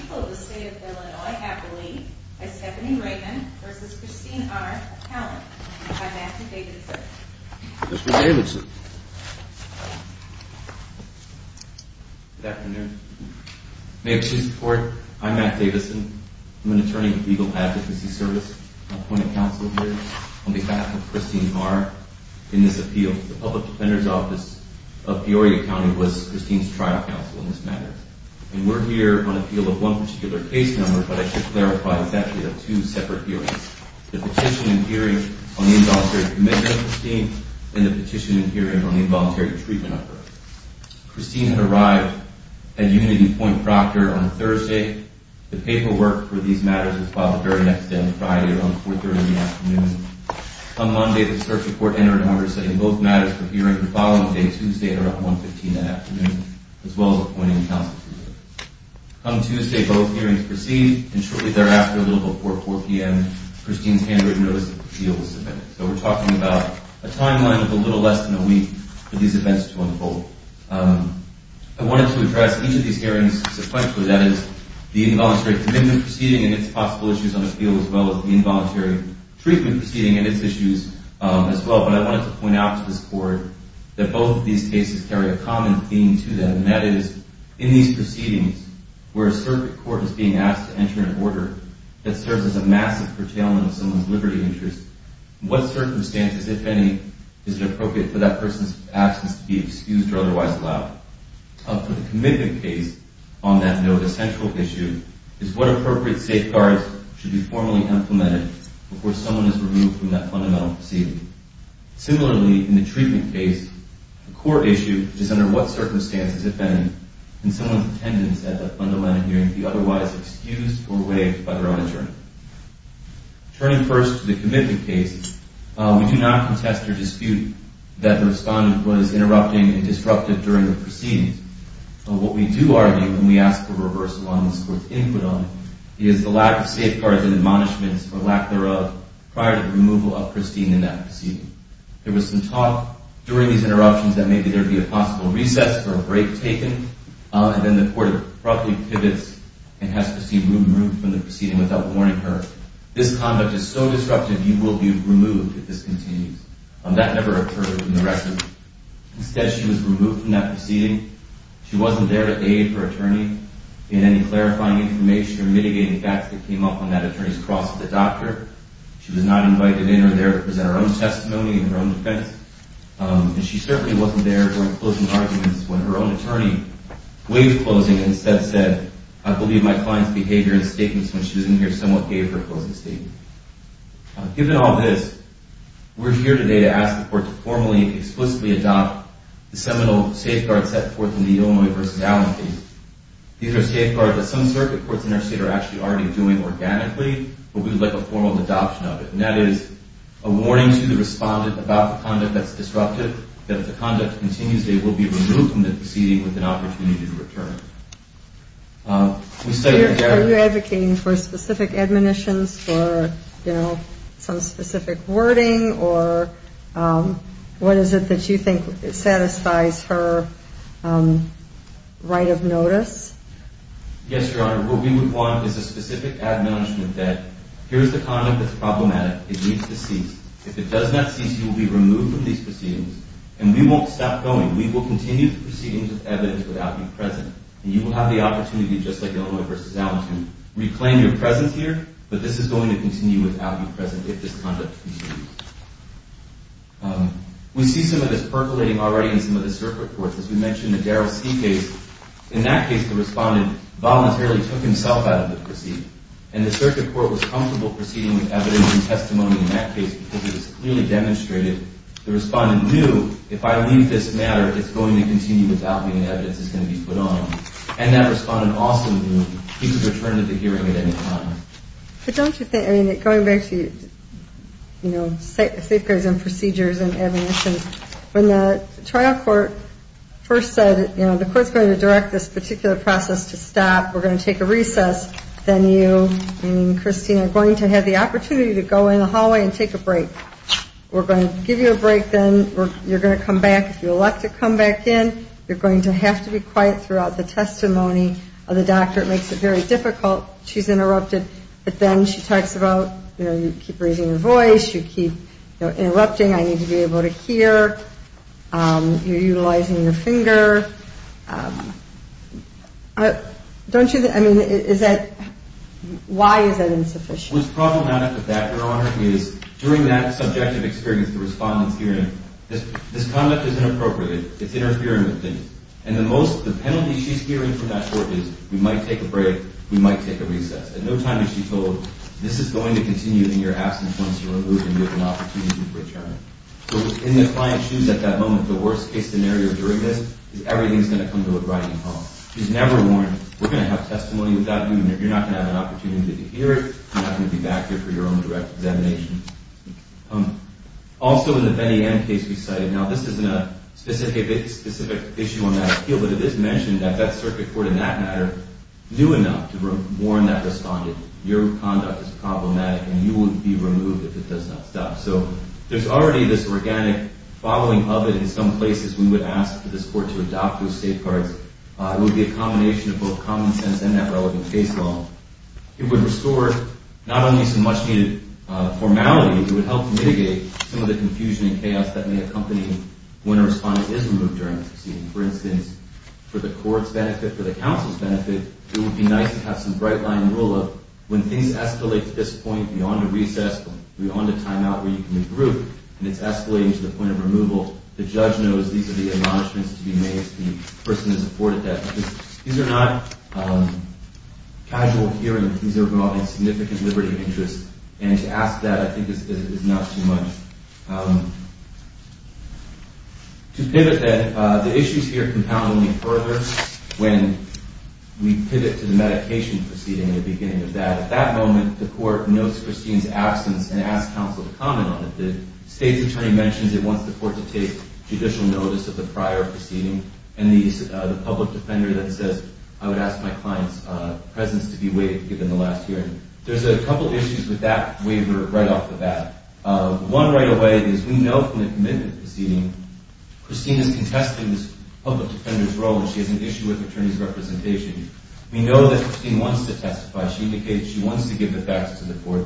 People of the State of Illinois, happily, by Stephanie Ragan, versus Christine R. Callum, by Matt Davidson. Good afternoon. May it please the Court, I'm Matt Davidson. I'm an attorney with Legal Advocacy Service. I'm appointed counsel here on behalf of Christine R. in this appeal. The Public Defender's Office of Peoria County was Christine's trial counsel in this matter. And we're here on appeal of one particular case number, but I should clarify, it's actually of two separate hearings. The petition and hearing on the involuntary commitment of Christine, and the petition and hearing on the involuntary treatment of her. Christine had arrived at Unity Point, Proctor on Thursday. The paperwork for these matters was filed the very next day on Friday around 4.30 in the afternoon. On Monday, the search report entered into order saying both matters for hearing the following day, Tuesday, are at 1.15 in the afternoon, as well as appointing counsel. On Tuesday, both hearings proceeded, and shortly thereafter, a little before 4 p.m., Christine's handwritten notice of appeal was submitted. So we're talking about a timeline of a little less than a week for these events to unfold. I wanted to address each of these hearings sequentially, that is, the involuntary commitment proceeding and its possible issues on appeal, as well as the involuntary treatment proceeding and its issues as well. But I wanted to point out to this Court that both of these cases carry a common theme to them, and that is, in these proceedings where a circuit court is being asked to enter an order that serves as a massive curtailment of someone's liberty interest, what circumstances, if any, is it appropriate for that person's absence to be excused or otherwise allowed? Up to the commitment case on that note, a central issue is what appropriate safeguards should be formally implemented before someone is removed from that fundamental proceeding. Similarly, in the treatment case, the core issue is under what circumstances, if any, can someone's attendance at that fundamental hearing be otherwise excused or waived by their own attorney? Turning first to the commitment case, we do not contest or dispute that the respondent was interrupting and disruptive during the proceedings. But what we do argue when we ask for reversal on this Court's input on it is the lack of safeguards and admonishments, for lack thereof, prior to the removal of Christine in that proceeding. There was some talk during these interruptions that maybe there would be a possible recess or a break taken, and then the Court abruptly pivots and has Christine removed from the proceeding without warning her. This conduct is so disruptive, you will be removed if this continues. That never occurred in the rest of them. Instead, she was removed from that proceeding. She wasn't there to aid her attorney in any clarifying information or mitigating facts that came up on that attorney's cross with the doctor. She was not invited in or there to present her own testimony and her own defense. And she certainly wasn't there during closing arguments when her own attorney waived closing and instead said, I believe my client's behavior and statements when she was in here somewhat gave her a closing statement. Given all this, we're here today to ask the Court to formally and explicitly adopt the seminal safeguards set forth in the Illinois v. Allen case. These are safeguards that some circuit courts in our state are actually already doing organically, but we would like a formal adoption of it. And that is a warning to the respondent about the conduct that's disruptive, that if the conduct continues, they will be removed from the proceeding with an opportunity to return. Are you advocating for specific admonitions or, you know, some specific wording or what is it that you think satisfies her right of notice? Yes, Your Honor. What we would want is a specific admonishment that here's the conduct that's problematic. It needs to cease. If it does not cease, you will be removed from these proceedings and we won't stop going. We will continue the proceedings with evidence without you present. And you will have the opportunity, just like Illinois v. Allen, to reclaim your presence here, but this is going to continue without you present if this conduct continues. We see some of this percolating already in some of the circuit courts. As we mentioned, the Darrell C. case, in that case, the respondent voluntarily took himself out of the proceeding. And the circuit court was comfortable proceeding with evidence and testimony in that case because it was clearly demonstrated. The respondent knew if I leave this matter, it's going to continue without me and evidence is going to be put on him. And that respondent also knew he could return to the hearing at any time. But don't you think, I mean, going back to, you know, safeguards and procedures and admonitions, when the trial court first said, you know, the court's going to direct this particular process to stop. We're going to take a recess. Then you and Christine are going to have the opportunity to go in the hallway and take a break. We're going to give you a break then. You're going to come back. If you elect to come back in, you're going to have to be quiet throughout the testimony of the doctor. It makes it very difficult. She's interrupted. But then she talks about, you know, you keep raising your voice. You keep interrupting. I need to be able to hear. You're utilizing your finger. Don't you, I mean, is that, why is that insufficient? What's problematic with that, Your Honor, is during that subjective experience, the respondent's hearing, this conduct is inappropriate. It's interfering with things. And the penalty she's hearing from that court is we might take a break, we might take a recess. At no time is she told, this is going to continue in your absence once you're removed and you have an opportunity to return. So in the client's shoes at that moment, the worst case scenario during this is everything's going to come to a grinding halt. She's never warned. We're going to have testimony without you in there. You're not going to have an opportunity to hear it. You're not going to be back here for your own direct examination. Also in the Benny M case we cited, now this isn't a specific issue on that appeal, but it is mentioned that that circuit court in that matter knew enough to warn that respondent, your conduct is problematic and you will be removed if it does not stop. So there's already this organic following of it in some places. We would ask for this court to adopt those safeguards. It would be a combination of both common sense and that relevant case law. It would restore not only some much-needed formality, it would help mitigate some of the confusion and chaos that may accompany when a respondent is removed during the proceeding. For instance, for the court's benefit, for the counsel's benefit, it would be nice to have some bright-line rule of when things escalate to this point beyond a recess, beyond a timeout where you can regroup, and it's escalating to the point of removal, the judge knows these are the admonishments to be made, if the person has afforded that. These are not casual hearings. These are involving significant liberty of interest, and to ask that, I think, is not too much. To pivot then, the issues here compound only further when we pivot to the medication proceeding and the beginning of that. At that moment, the court notes Christine's absence and asks counsel to comment on it. The state's attorney mentions it wants the court to take judicial notice of the prior proceeding, and the public defender then says, I would ask my client's presence to be waived given the last hearing. There's a couple issues with that waiver right off the bat. One right away is we know from the commitment proceeding, Christine is contesting this public defender's role, and she has an issue with attorney's representation. We know that Christine wants to testify. She indicates she wants to give the facts to the court,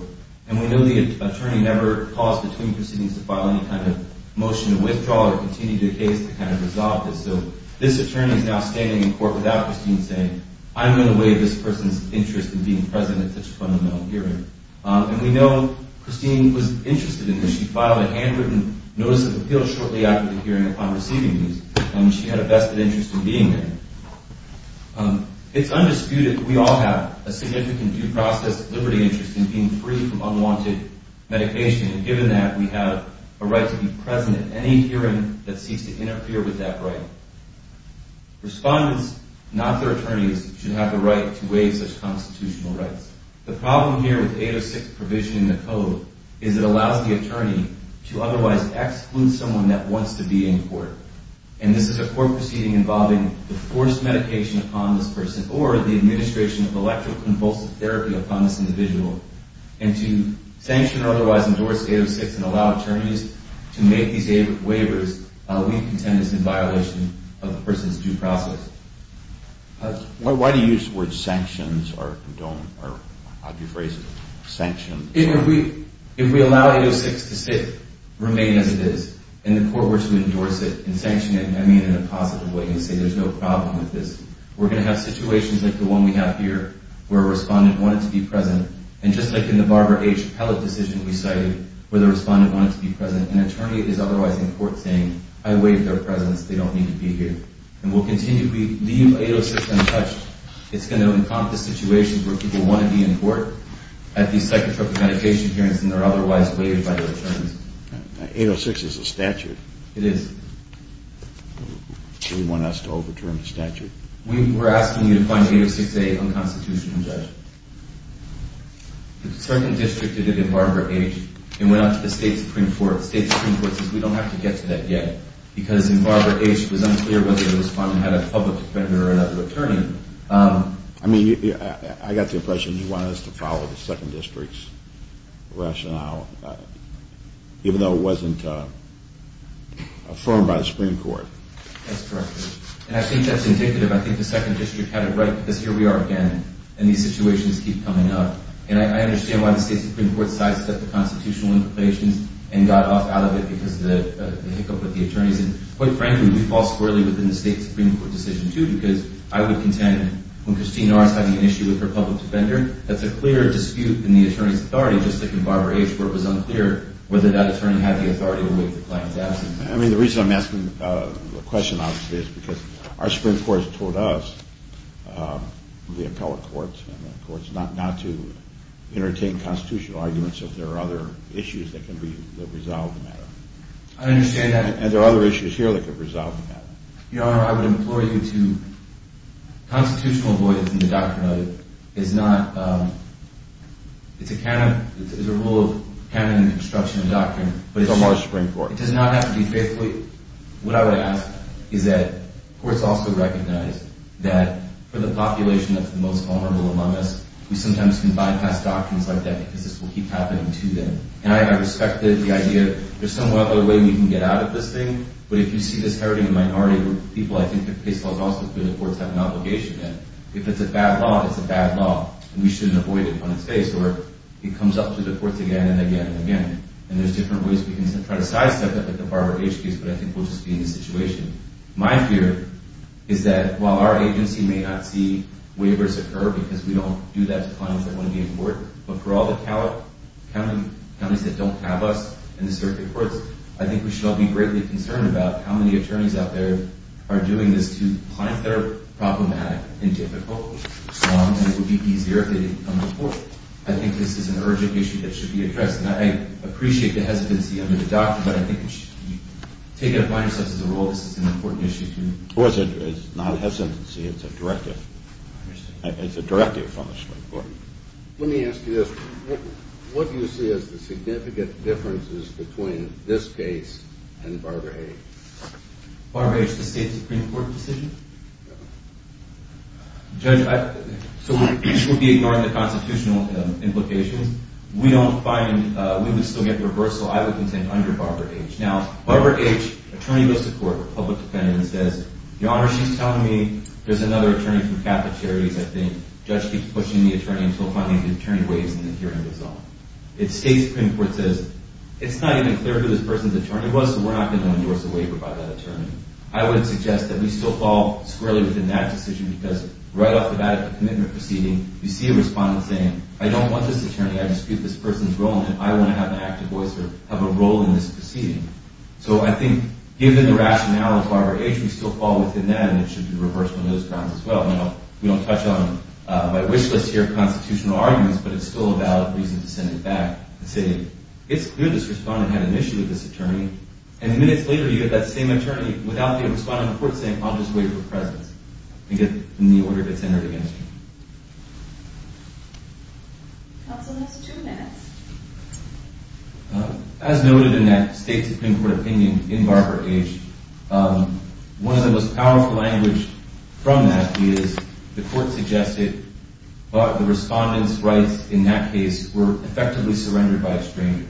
and we know the attorney never calls between proceedings to file any kind of motion to withdraw or continue the case to kind of resolve this. So this attorney is now standing in court without Christine saying, I'm going to waive this person's interest in being present at such a fundamental hearing. And we know Christine was interested in this. She filed a handwritten notice of appeal shortly after the hearing upon receiving these, and she had a vested interest in being there. It's undisputed that we all have a significant due process liberty interest in being free from unwanted medication, and given that, we have a right to be present at any hearing that seeks to interfere with that right. Respondents, not their attorneys, should have the right to waive such constitutional rights. The problem here with 806 provision in the code is it allows the attorney to otherwise exclude someone that wants to be in court. And this is a court proceeding involving the forced medication upon this person or the administration of electroconvulsive therapy upon this individual. And to sanction or otherwise endorse 806 and allow attorneys to make these waivers, we contend is in violation of the person's due process. Why do you use the word sanctions or don't, or how do you phrase it, sanctions? If we allow 806 to remain as it is and the court were to endorse it and sanction it, I mean in a positive way and say there's no problem with this. We're going to have situations like the one we have here where a respondent wanted to be present, and just like in the Barbara H. Pellett decision we cited where the respondent wanted to be present, an attorney is otherwise in court saying, I waived their presence, they don't need to be here. And we'll continue to leave 806 untouched. It's going to encompass situations where people want to be in court at these psychotropic medication hearings and they're otherwise waived by the attorneys. 806 is a statute. It is. Do you want us to overturn the statute? We're asking you to find 806A unconstitutional, Judge. A certain district did it in Barbara H. and went out to the State Supreme Court. The State Supreme Court says we don't have to get to that yet because in Barbara H. it was unclear whether the respondent had a public defender or another attorney. I mean, I got the impression you wanted us to follow the Second District's rationale, even though it wasn't affirmed by the Supreme Court. That's correct. And I think that's indicative. I think the Second District had it right because here we are again and these situations keep coming up. And I understand why the State Supreme Court sidestepped the constitutional implications and got off out of it because of the hiccup with the attorneys. And quite frankly, we fall squarely within the State Supreme Court decision, too, because I would contend when Christine R. is having an issue with her public defender, that's a clear dispute in the attorney's authority, just like in Barbara H. where it was unclear whether that attorney had the authority to waive the client's absence. I mean, the reason I'm asking the question, obviously, is because our Supreme Court has told us, the appellate courts and the courts, not to entertain constitutional arguments if there are other issues that can resolve the matter. I understand that. And there are other issues here that could resolve the matter. Your Honor, I would implore you to constitutional avoidance in the doctrine of it is not, it's a rule of canon and construction of doctrine. But it's a large Supreme Court. It does not have to be faithfully. What I would ask is that courts also recognize that for the population that's the most vulnerable among us, we sometimes can bypass doctrines like that because this will keep happening to them. And I respect the idea that there's some other way we can get out of this thing. But if you see this hurting a minority of people, I think the case law is also clear that courts have an obligation. And if it's a bad law, it's a bad law. And we shouldn't avoid it when it's faced. Or it comes up to the courts again and again and again. And there's different ways we can try to sidestep it, like the Barbara H. case, but I think we'll just be in this situation. My fear is that while our agency may not see waivers occur because we don't do that to clients that want to be in court, but for all the counties that don't have us in the circuit courts, I think we should all be greatly concerned about how many attorneys out there are doing this to clients that are problematic and difficult, and it would be easier if they didn't come to court. I think this is an urgent issue that should be addressed. And I appreciate the hesitancy under the doctrine, but I think if we take it upon ourselves as a rule, this is an important issue too. It's not a hesitancy. It's a directive. It's a directive from the Supreme Court. Let me ask you this. What do you see as the significant differences between this case and Barbara H.? Barbara H., the state Supreme Court decision? Yeah. Judge, so we'll be ignoring the constitutional implications. We don't find we would still get reversal. I would contend under Barbara H. Now, Barbara H., attorney goes to court, public defender, and says, Your Honor, she's telling me there's another attorney from Catholic Charities. I think judge keeps pushing the attorney until finally the attorney waves and the hearing goes on. The state Supreme Court says, It's not even clear who this person's attorney was, so we're not going to endorse a waiver by that attorney. I would suggest that we still fall squarely within that decision because right off the bat at the commitment proceeding, you see a respondent saying, I don't want this attorney. I dispute this person's role, and I want to have an active voice or have a role in this proceeding. So I think given the rationale of Barbara H., we still fall within that, and it should be reversed on those grounds as well. We don't touch on my wish list here of constitutional arguments, but it's still a valid reason to send it back and say, It's clear this respondent had an issue with this attorney, and minutes later you get that same attorney without the respondent in court saying, I'll just waive her presence and get the order that's entered against her. Counsel has two minutes. As noted in that state Supreme Court opinion in Barbara H., one of the most powerful language from that is the court suggested the respondent's rights in that case were effectively surrendered by a stranger,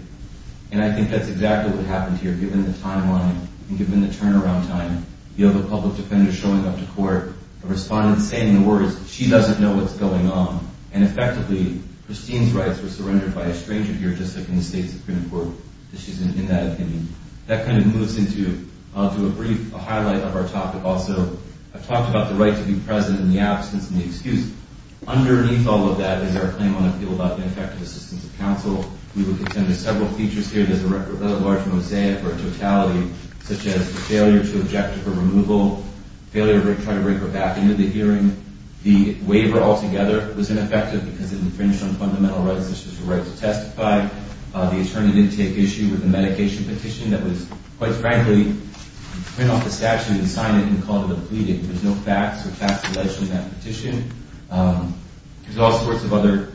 and I think that's exactly what happened here given the timeline and given the turnaround time, the other public defender showing up to court, a respondent saying the words, She doesn't know what's going on, and effectively Christine's rights were surrendered by a stranger here just like in the state Supreme Court. She's in that opinion. That kind of moves into a brief highlight of our topic also. I've talked about the right to be present and the absence and the excuse. Underneath all of that is our claim on appeal about ineffective assistance of counsel. We look at several features here. There's a large mosaic or totality such as the failure to object to her removal, failure to try to bring her back into the hearing. The waiver altogether was ineffective because it infringed on fundamental rights, such as the right to testify. The attorney didn't take issue with the medication petition that was, quite frankly, print off the statute and sign it and call it a pleading. There's no facts or facts alleged in that petition. There's all sorts of other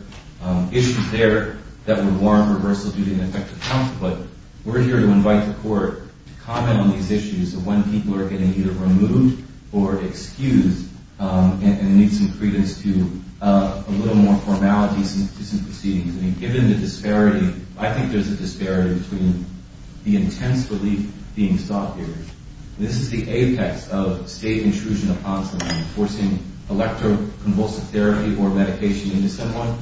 issues there that would warrant reversal due to ineffective counsel, but we're here to invite the court to comment on these issues of when people are getting either removed or excused and need some credence to a little more formalities and proceedings. Given the disparity, I think there's a disparity between the intense relief being sought here. This is the apex of state intrusion upon someone, forcing electroconvulsive therapy or medication into someone.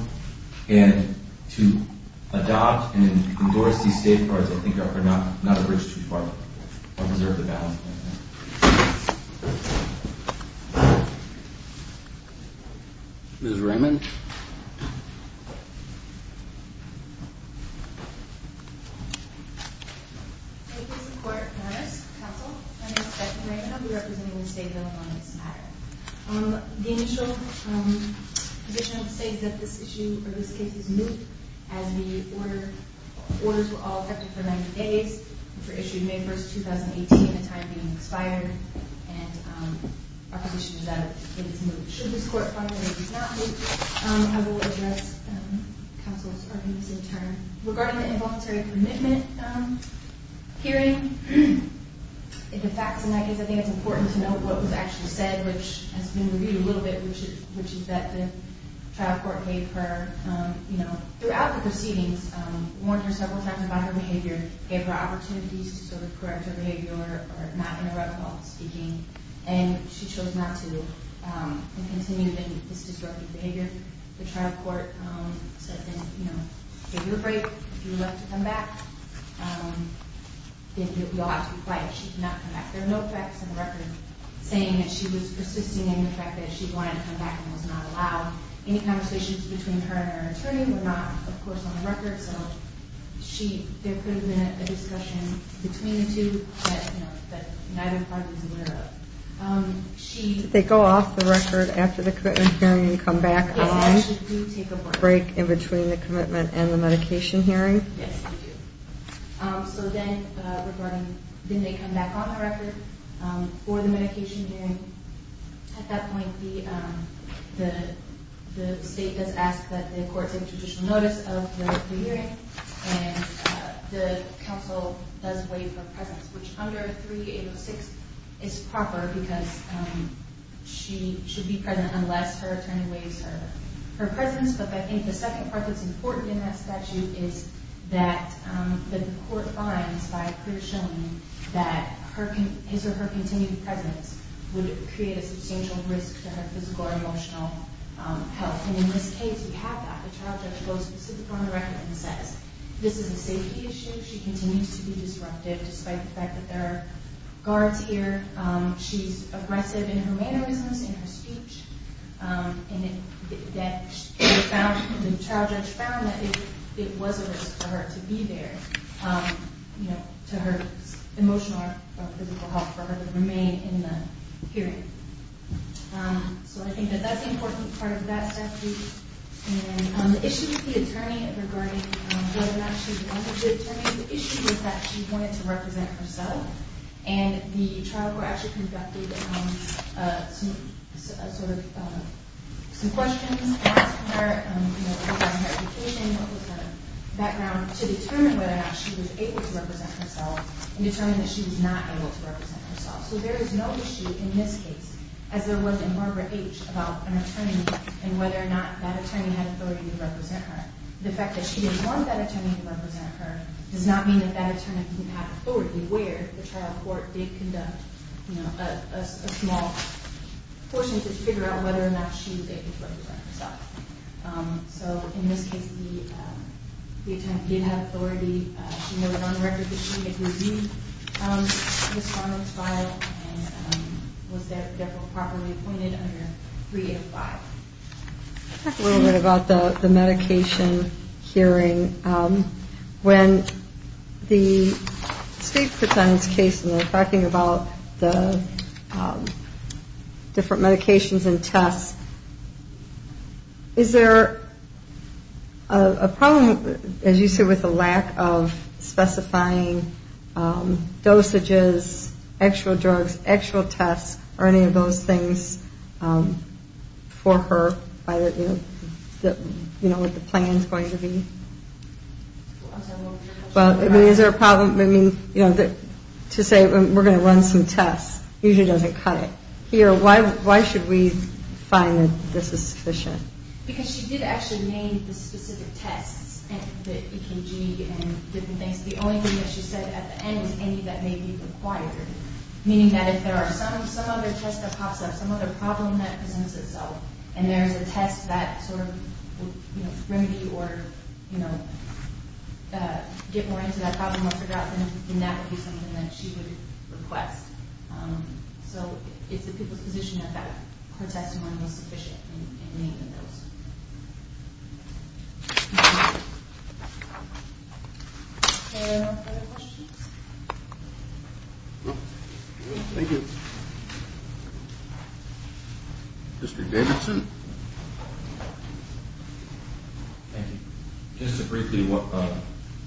And to adopt and endorse these safeguards, I think, are not a bridge too far. I deserve the balance of my time. Ms. Raymond? Thank you, Mr. Court. Madam Counsel, I'm Inspector Raymond. I'll be representing the state bill on this matter. The initial position of the state is that this issue or this case is moot, as the orders were all effective for 90 days and were issued May 1, 2018, a time being expired, and our position is that it is moot. Should this court find that it is not moot, I will address counsel's arguments in turn. Regarding the involuntary commitment hearing, if the facts in that case, I think it's important to note what was actually said, which has been reviewed a little bit, which is that the trial court gave her, you know, throughout the proceedings, warned her several times about her behavior, gave her opportunities to sort of correct her behavior or not interrupt while speaking, and she chose not to and continued in this disruptive behavior. The trial court said, you know, take your break. If you would like to come back, then you'll have to be quiet. She did not come back. There are no facts in the record saying that she was persisting in the fact that she wanted to come back and was not allowed. Any conversations between her and her attorney were not, of course, on the record, so there could have been a discussion between the two that neither party is aware of. Did they go off the record after the commitment hearing and come back on? Yes, they actually do take a break. Break in between the commitment and the medication hearing? Yes, they do. So then they come back on the record for the medication hearing. At that point, the state does ask that the court take judicial notice of the hearing, and the counsel does waive her presence, which under 3806 is proper because she should be present unless her attorney waives her presence. But I think the second part that's important in that statute is that the court finds, by a clear showing, that his or her continued presence would create a substantial risk to her physical or emotional health. And in this case, we have that. The trial judge goes specifically on the record and says this is a safety issue. She continues to be disruptive despite the fact that there are guards here. She's aggressive in her mannerisms, in her speech. And the trial judge found that it was a risk to her to be there, to her emotional or physical health for her to remain in the hearing. So I think that that's an important part of that statute. And the issue with the attorney regarding whether or not she wanted to, the issue was that she wanted to represent herself, and the trial court actually conducted some questions, asked her about her education, what was her background, to determine whether or not she was able to represent herself and determine that she was not able to represent herself. So there is no issue in this case, as there was in Barbara H., about an attorney and whether or not that attorney had authority to represent her. The fact that she didn't want that attorney to represent her does not mean that that attorney didn't have authority where the trial court did conduct a small portion to figure out whether or not she was able to represent herself. So in this case, the attorney did have authority. She noted on the record that she had reviewed Ms. Farman's file and was therefore properly appointed under 305. I'll talk a little bit about the medication hearing. When the state puts on this case and they're talking about the different medications and tests, is there a problem, as you said, with the lack of specifying dosages, actual drugs, actual tests, or any of those things for her, what the plan is going to be? Is there a problem? To say we're going to run some tests usually doesn't cut it. Here, why should we find that this is sufficient? Because she did actually name the specific tests, the EKG and different things. The only thing that she said at the end was any that may be required, meaning that if there are some other tests that pops up, some other problem that presents itself, and there's a test that sort of will remedy or get more into that problem or figure out, then that would be something that she would request. So it's the people's position that her testimony was sufficient in naming those. Are there no further questions? No? Thank you. District Davidson. Thank you. Just to briefly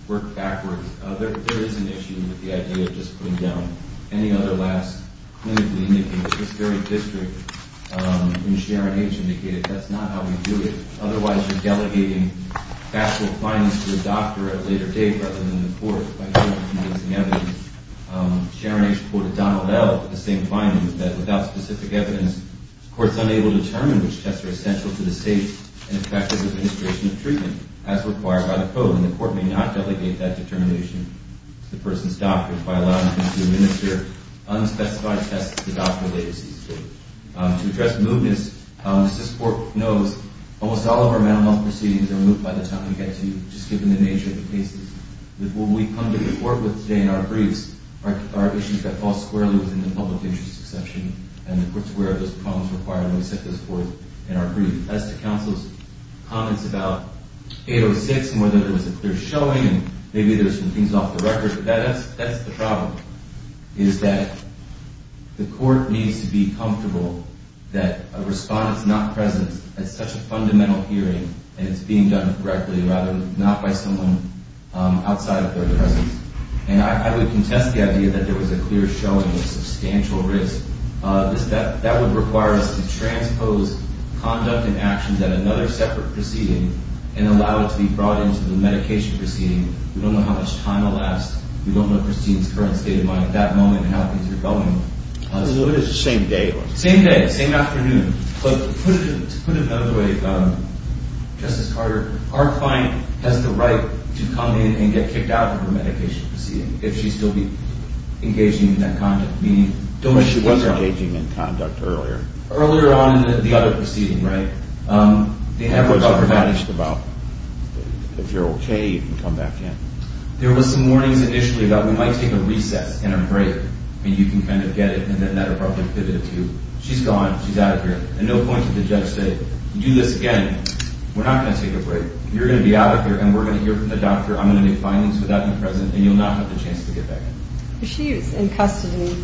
work backwards, there is an issue with the idea of just putting down any other last clinically indicated. This very district in Sharon H. indicated that's not how we do it. Otherwise, you're delegating factual findings to a doctor at a later date rather than the court. Sharon H. quoted Donald L. with the same findings, that without specific evidence, the court is unable to determine which tests are essential to the state and effective administration of treatment as required by the code. And the court may not delegate that determination to the person's doctor by allowing them to administer unspecified tests at the doctor at a later stage. To address mootness, as this court knows, almost all of our mental health proceedings are moved by the time we get to just given the nature of the cases. What we come to the court with today in our briefs are issues that fall squarely within the public interest exception, and the court's aware of those problems required when we set those forth in our brief. As to counsel's comments about 806 and whether there was a clear showing, and maybe there's some things off the record, that's the problem, is that the court needs to be comfortable that a respondent's not present at such a fundamental hearing and it's being done correctly rather than not by someone outside of their presence. And I would contest the idea that there was a clear showing of substantial risk. That would require us to transpose conduct and actions at another separate proceeding and allow it to be brought into the medication proceeding. We don't know how much time will last. We don't know Christine's current state of mind at that moment and how things are going. It's the same day. Same day, same afternoon. But to put it another way, Justice Carter, our client has the right to come in and get kicked out of the medication proceeding if she's still engaging in that conduct. But she was engaging in conduct earlier. Earlier on in the other proceeding, right? They have a government. If you're okay, you can come back in. There were some warnings initially that we might take a recess and a break and you can kind of get it and then that'll probably fit it too. She's gone. She's out of here. And no point for the judge to say, do this again. We're not going to take a break. You're going to be out of here and we're going to hear from the doctor. I'm going to make findings without you present and you'll not have the chance to get back in. But she was in custody.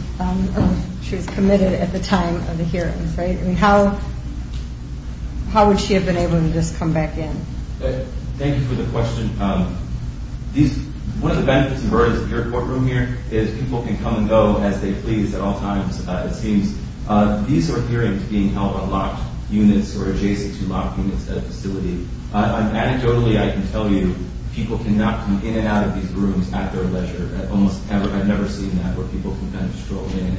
She was committed at the time of the hearing, right? I mean, how would she have been able to just come back in? Thank you for the question. One of the benefits of her in this courtroom here is people can come and go as they please at all times, it seems. These are hearings being held on locked units or adjacent to locked units at a facility. Anecdotally, I can tell you people cannot come in and out of these rooms at their leisure. I've never seen that where people can kind of stroll in and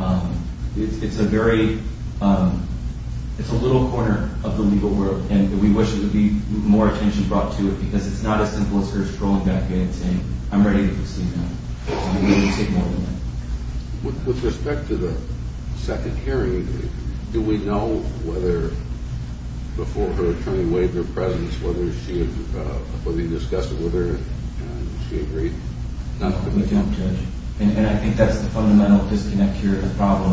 out. It's a little corner of the legal world. And we wish there would be more attention brought to it because it's not as simple as her strolling back in and saying, I'm ready to proceed now. With respect to the second hearing, do we know whether, before her attorney waived her presence, whether he discussed it with her and she agreed? No, we don't, Judge. And I think that's the fundamental disconnect here, the problem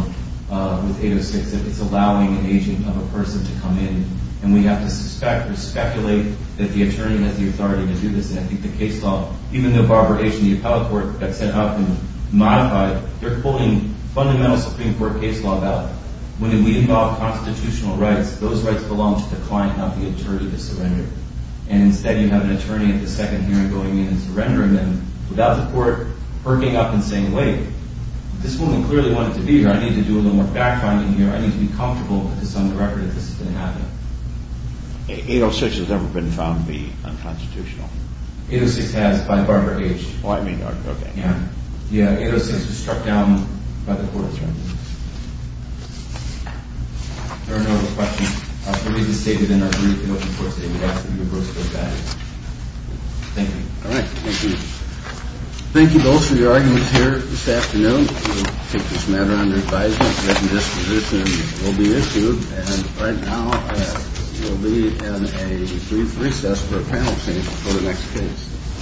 with 806. It's allowing an agent of a person to come in. And we have to suspect or speculate that the attorney has the authority to do this. And I think the case law, even though Barbara H. and the appellate court got set up and modified, they're pulling fundamental Supreme Court case law out. When we involve constitutional rights, those rights belong to the client, not the attorney, to surrender. And instead, you have an attorney at the second hearing going in and surrendering them without the court perking up and saying, wait, this woman clearly wanted to be here. I need to do a little more backfinding here. I need to be comfortable with this on the record that this is going to happen. 806 has never been found to be unconstitutional. 806 has by Barbara H. Oh, I mean, okay. Yeah. Yeah, 806 was struck down by the courts, right? There are no other questions. I believe it's stated in our brief in open court statement as to the reverse of those values. Thank you. All right. Thank you. Thank you both for your arguments here this afternoon. We'll take this matter under advisement. A written disposition will be issued. And right now, we'll be in a brief recess for a panel change for the next case.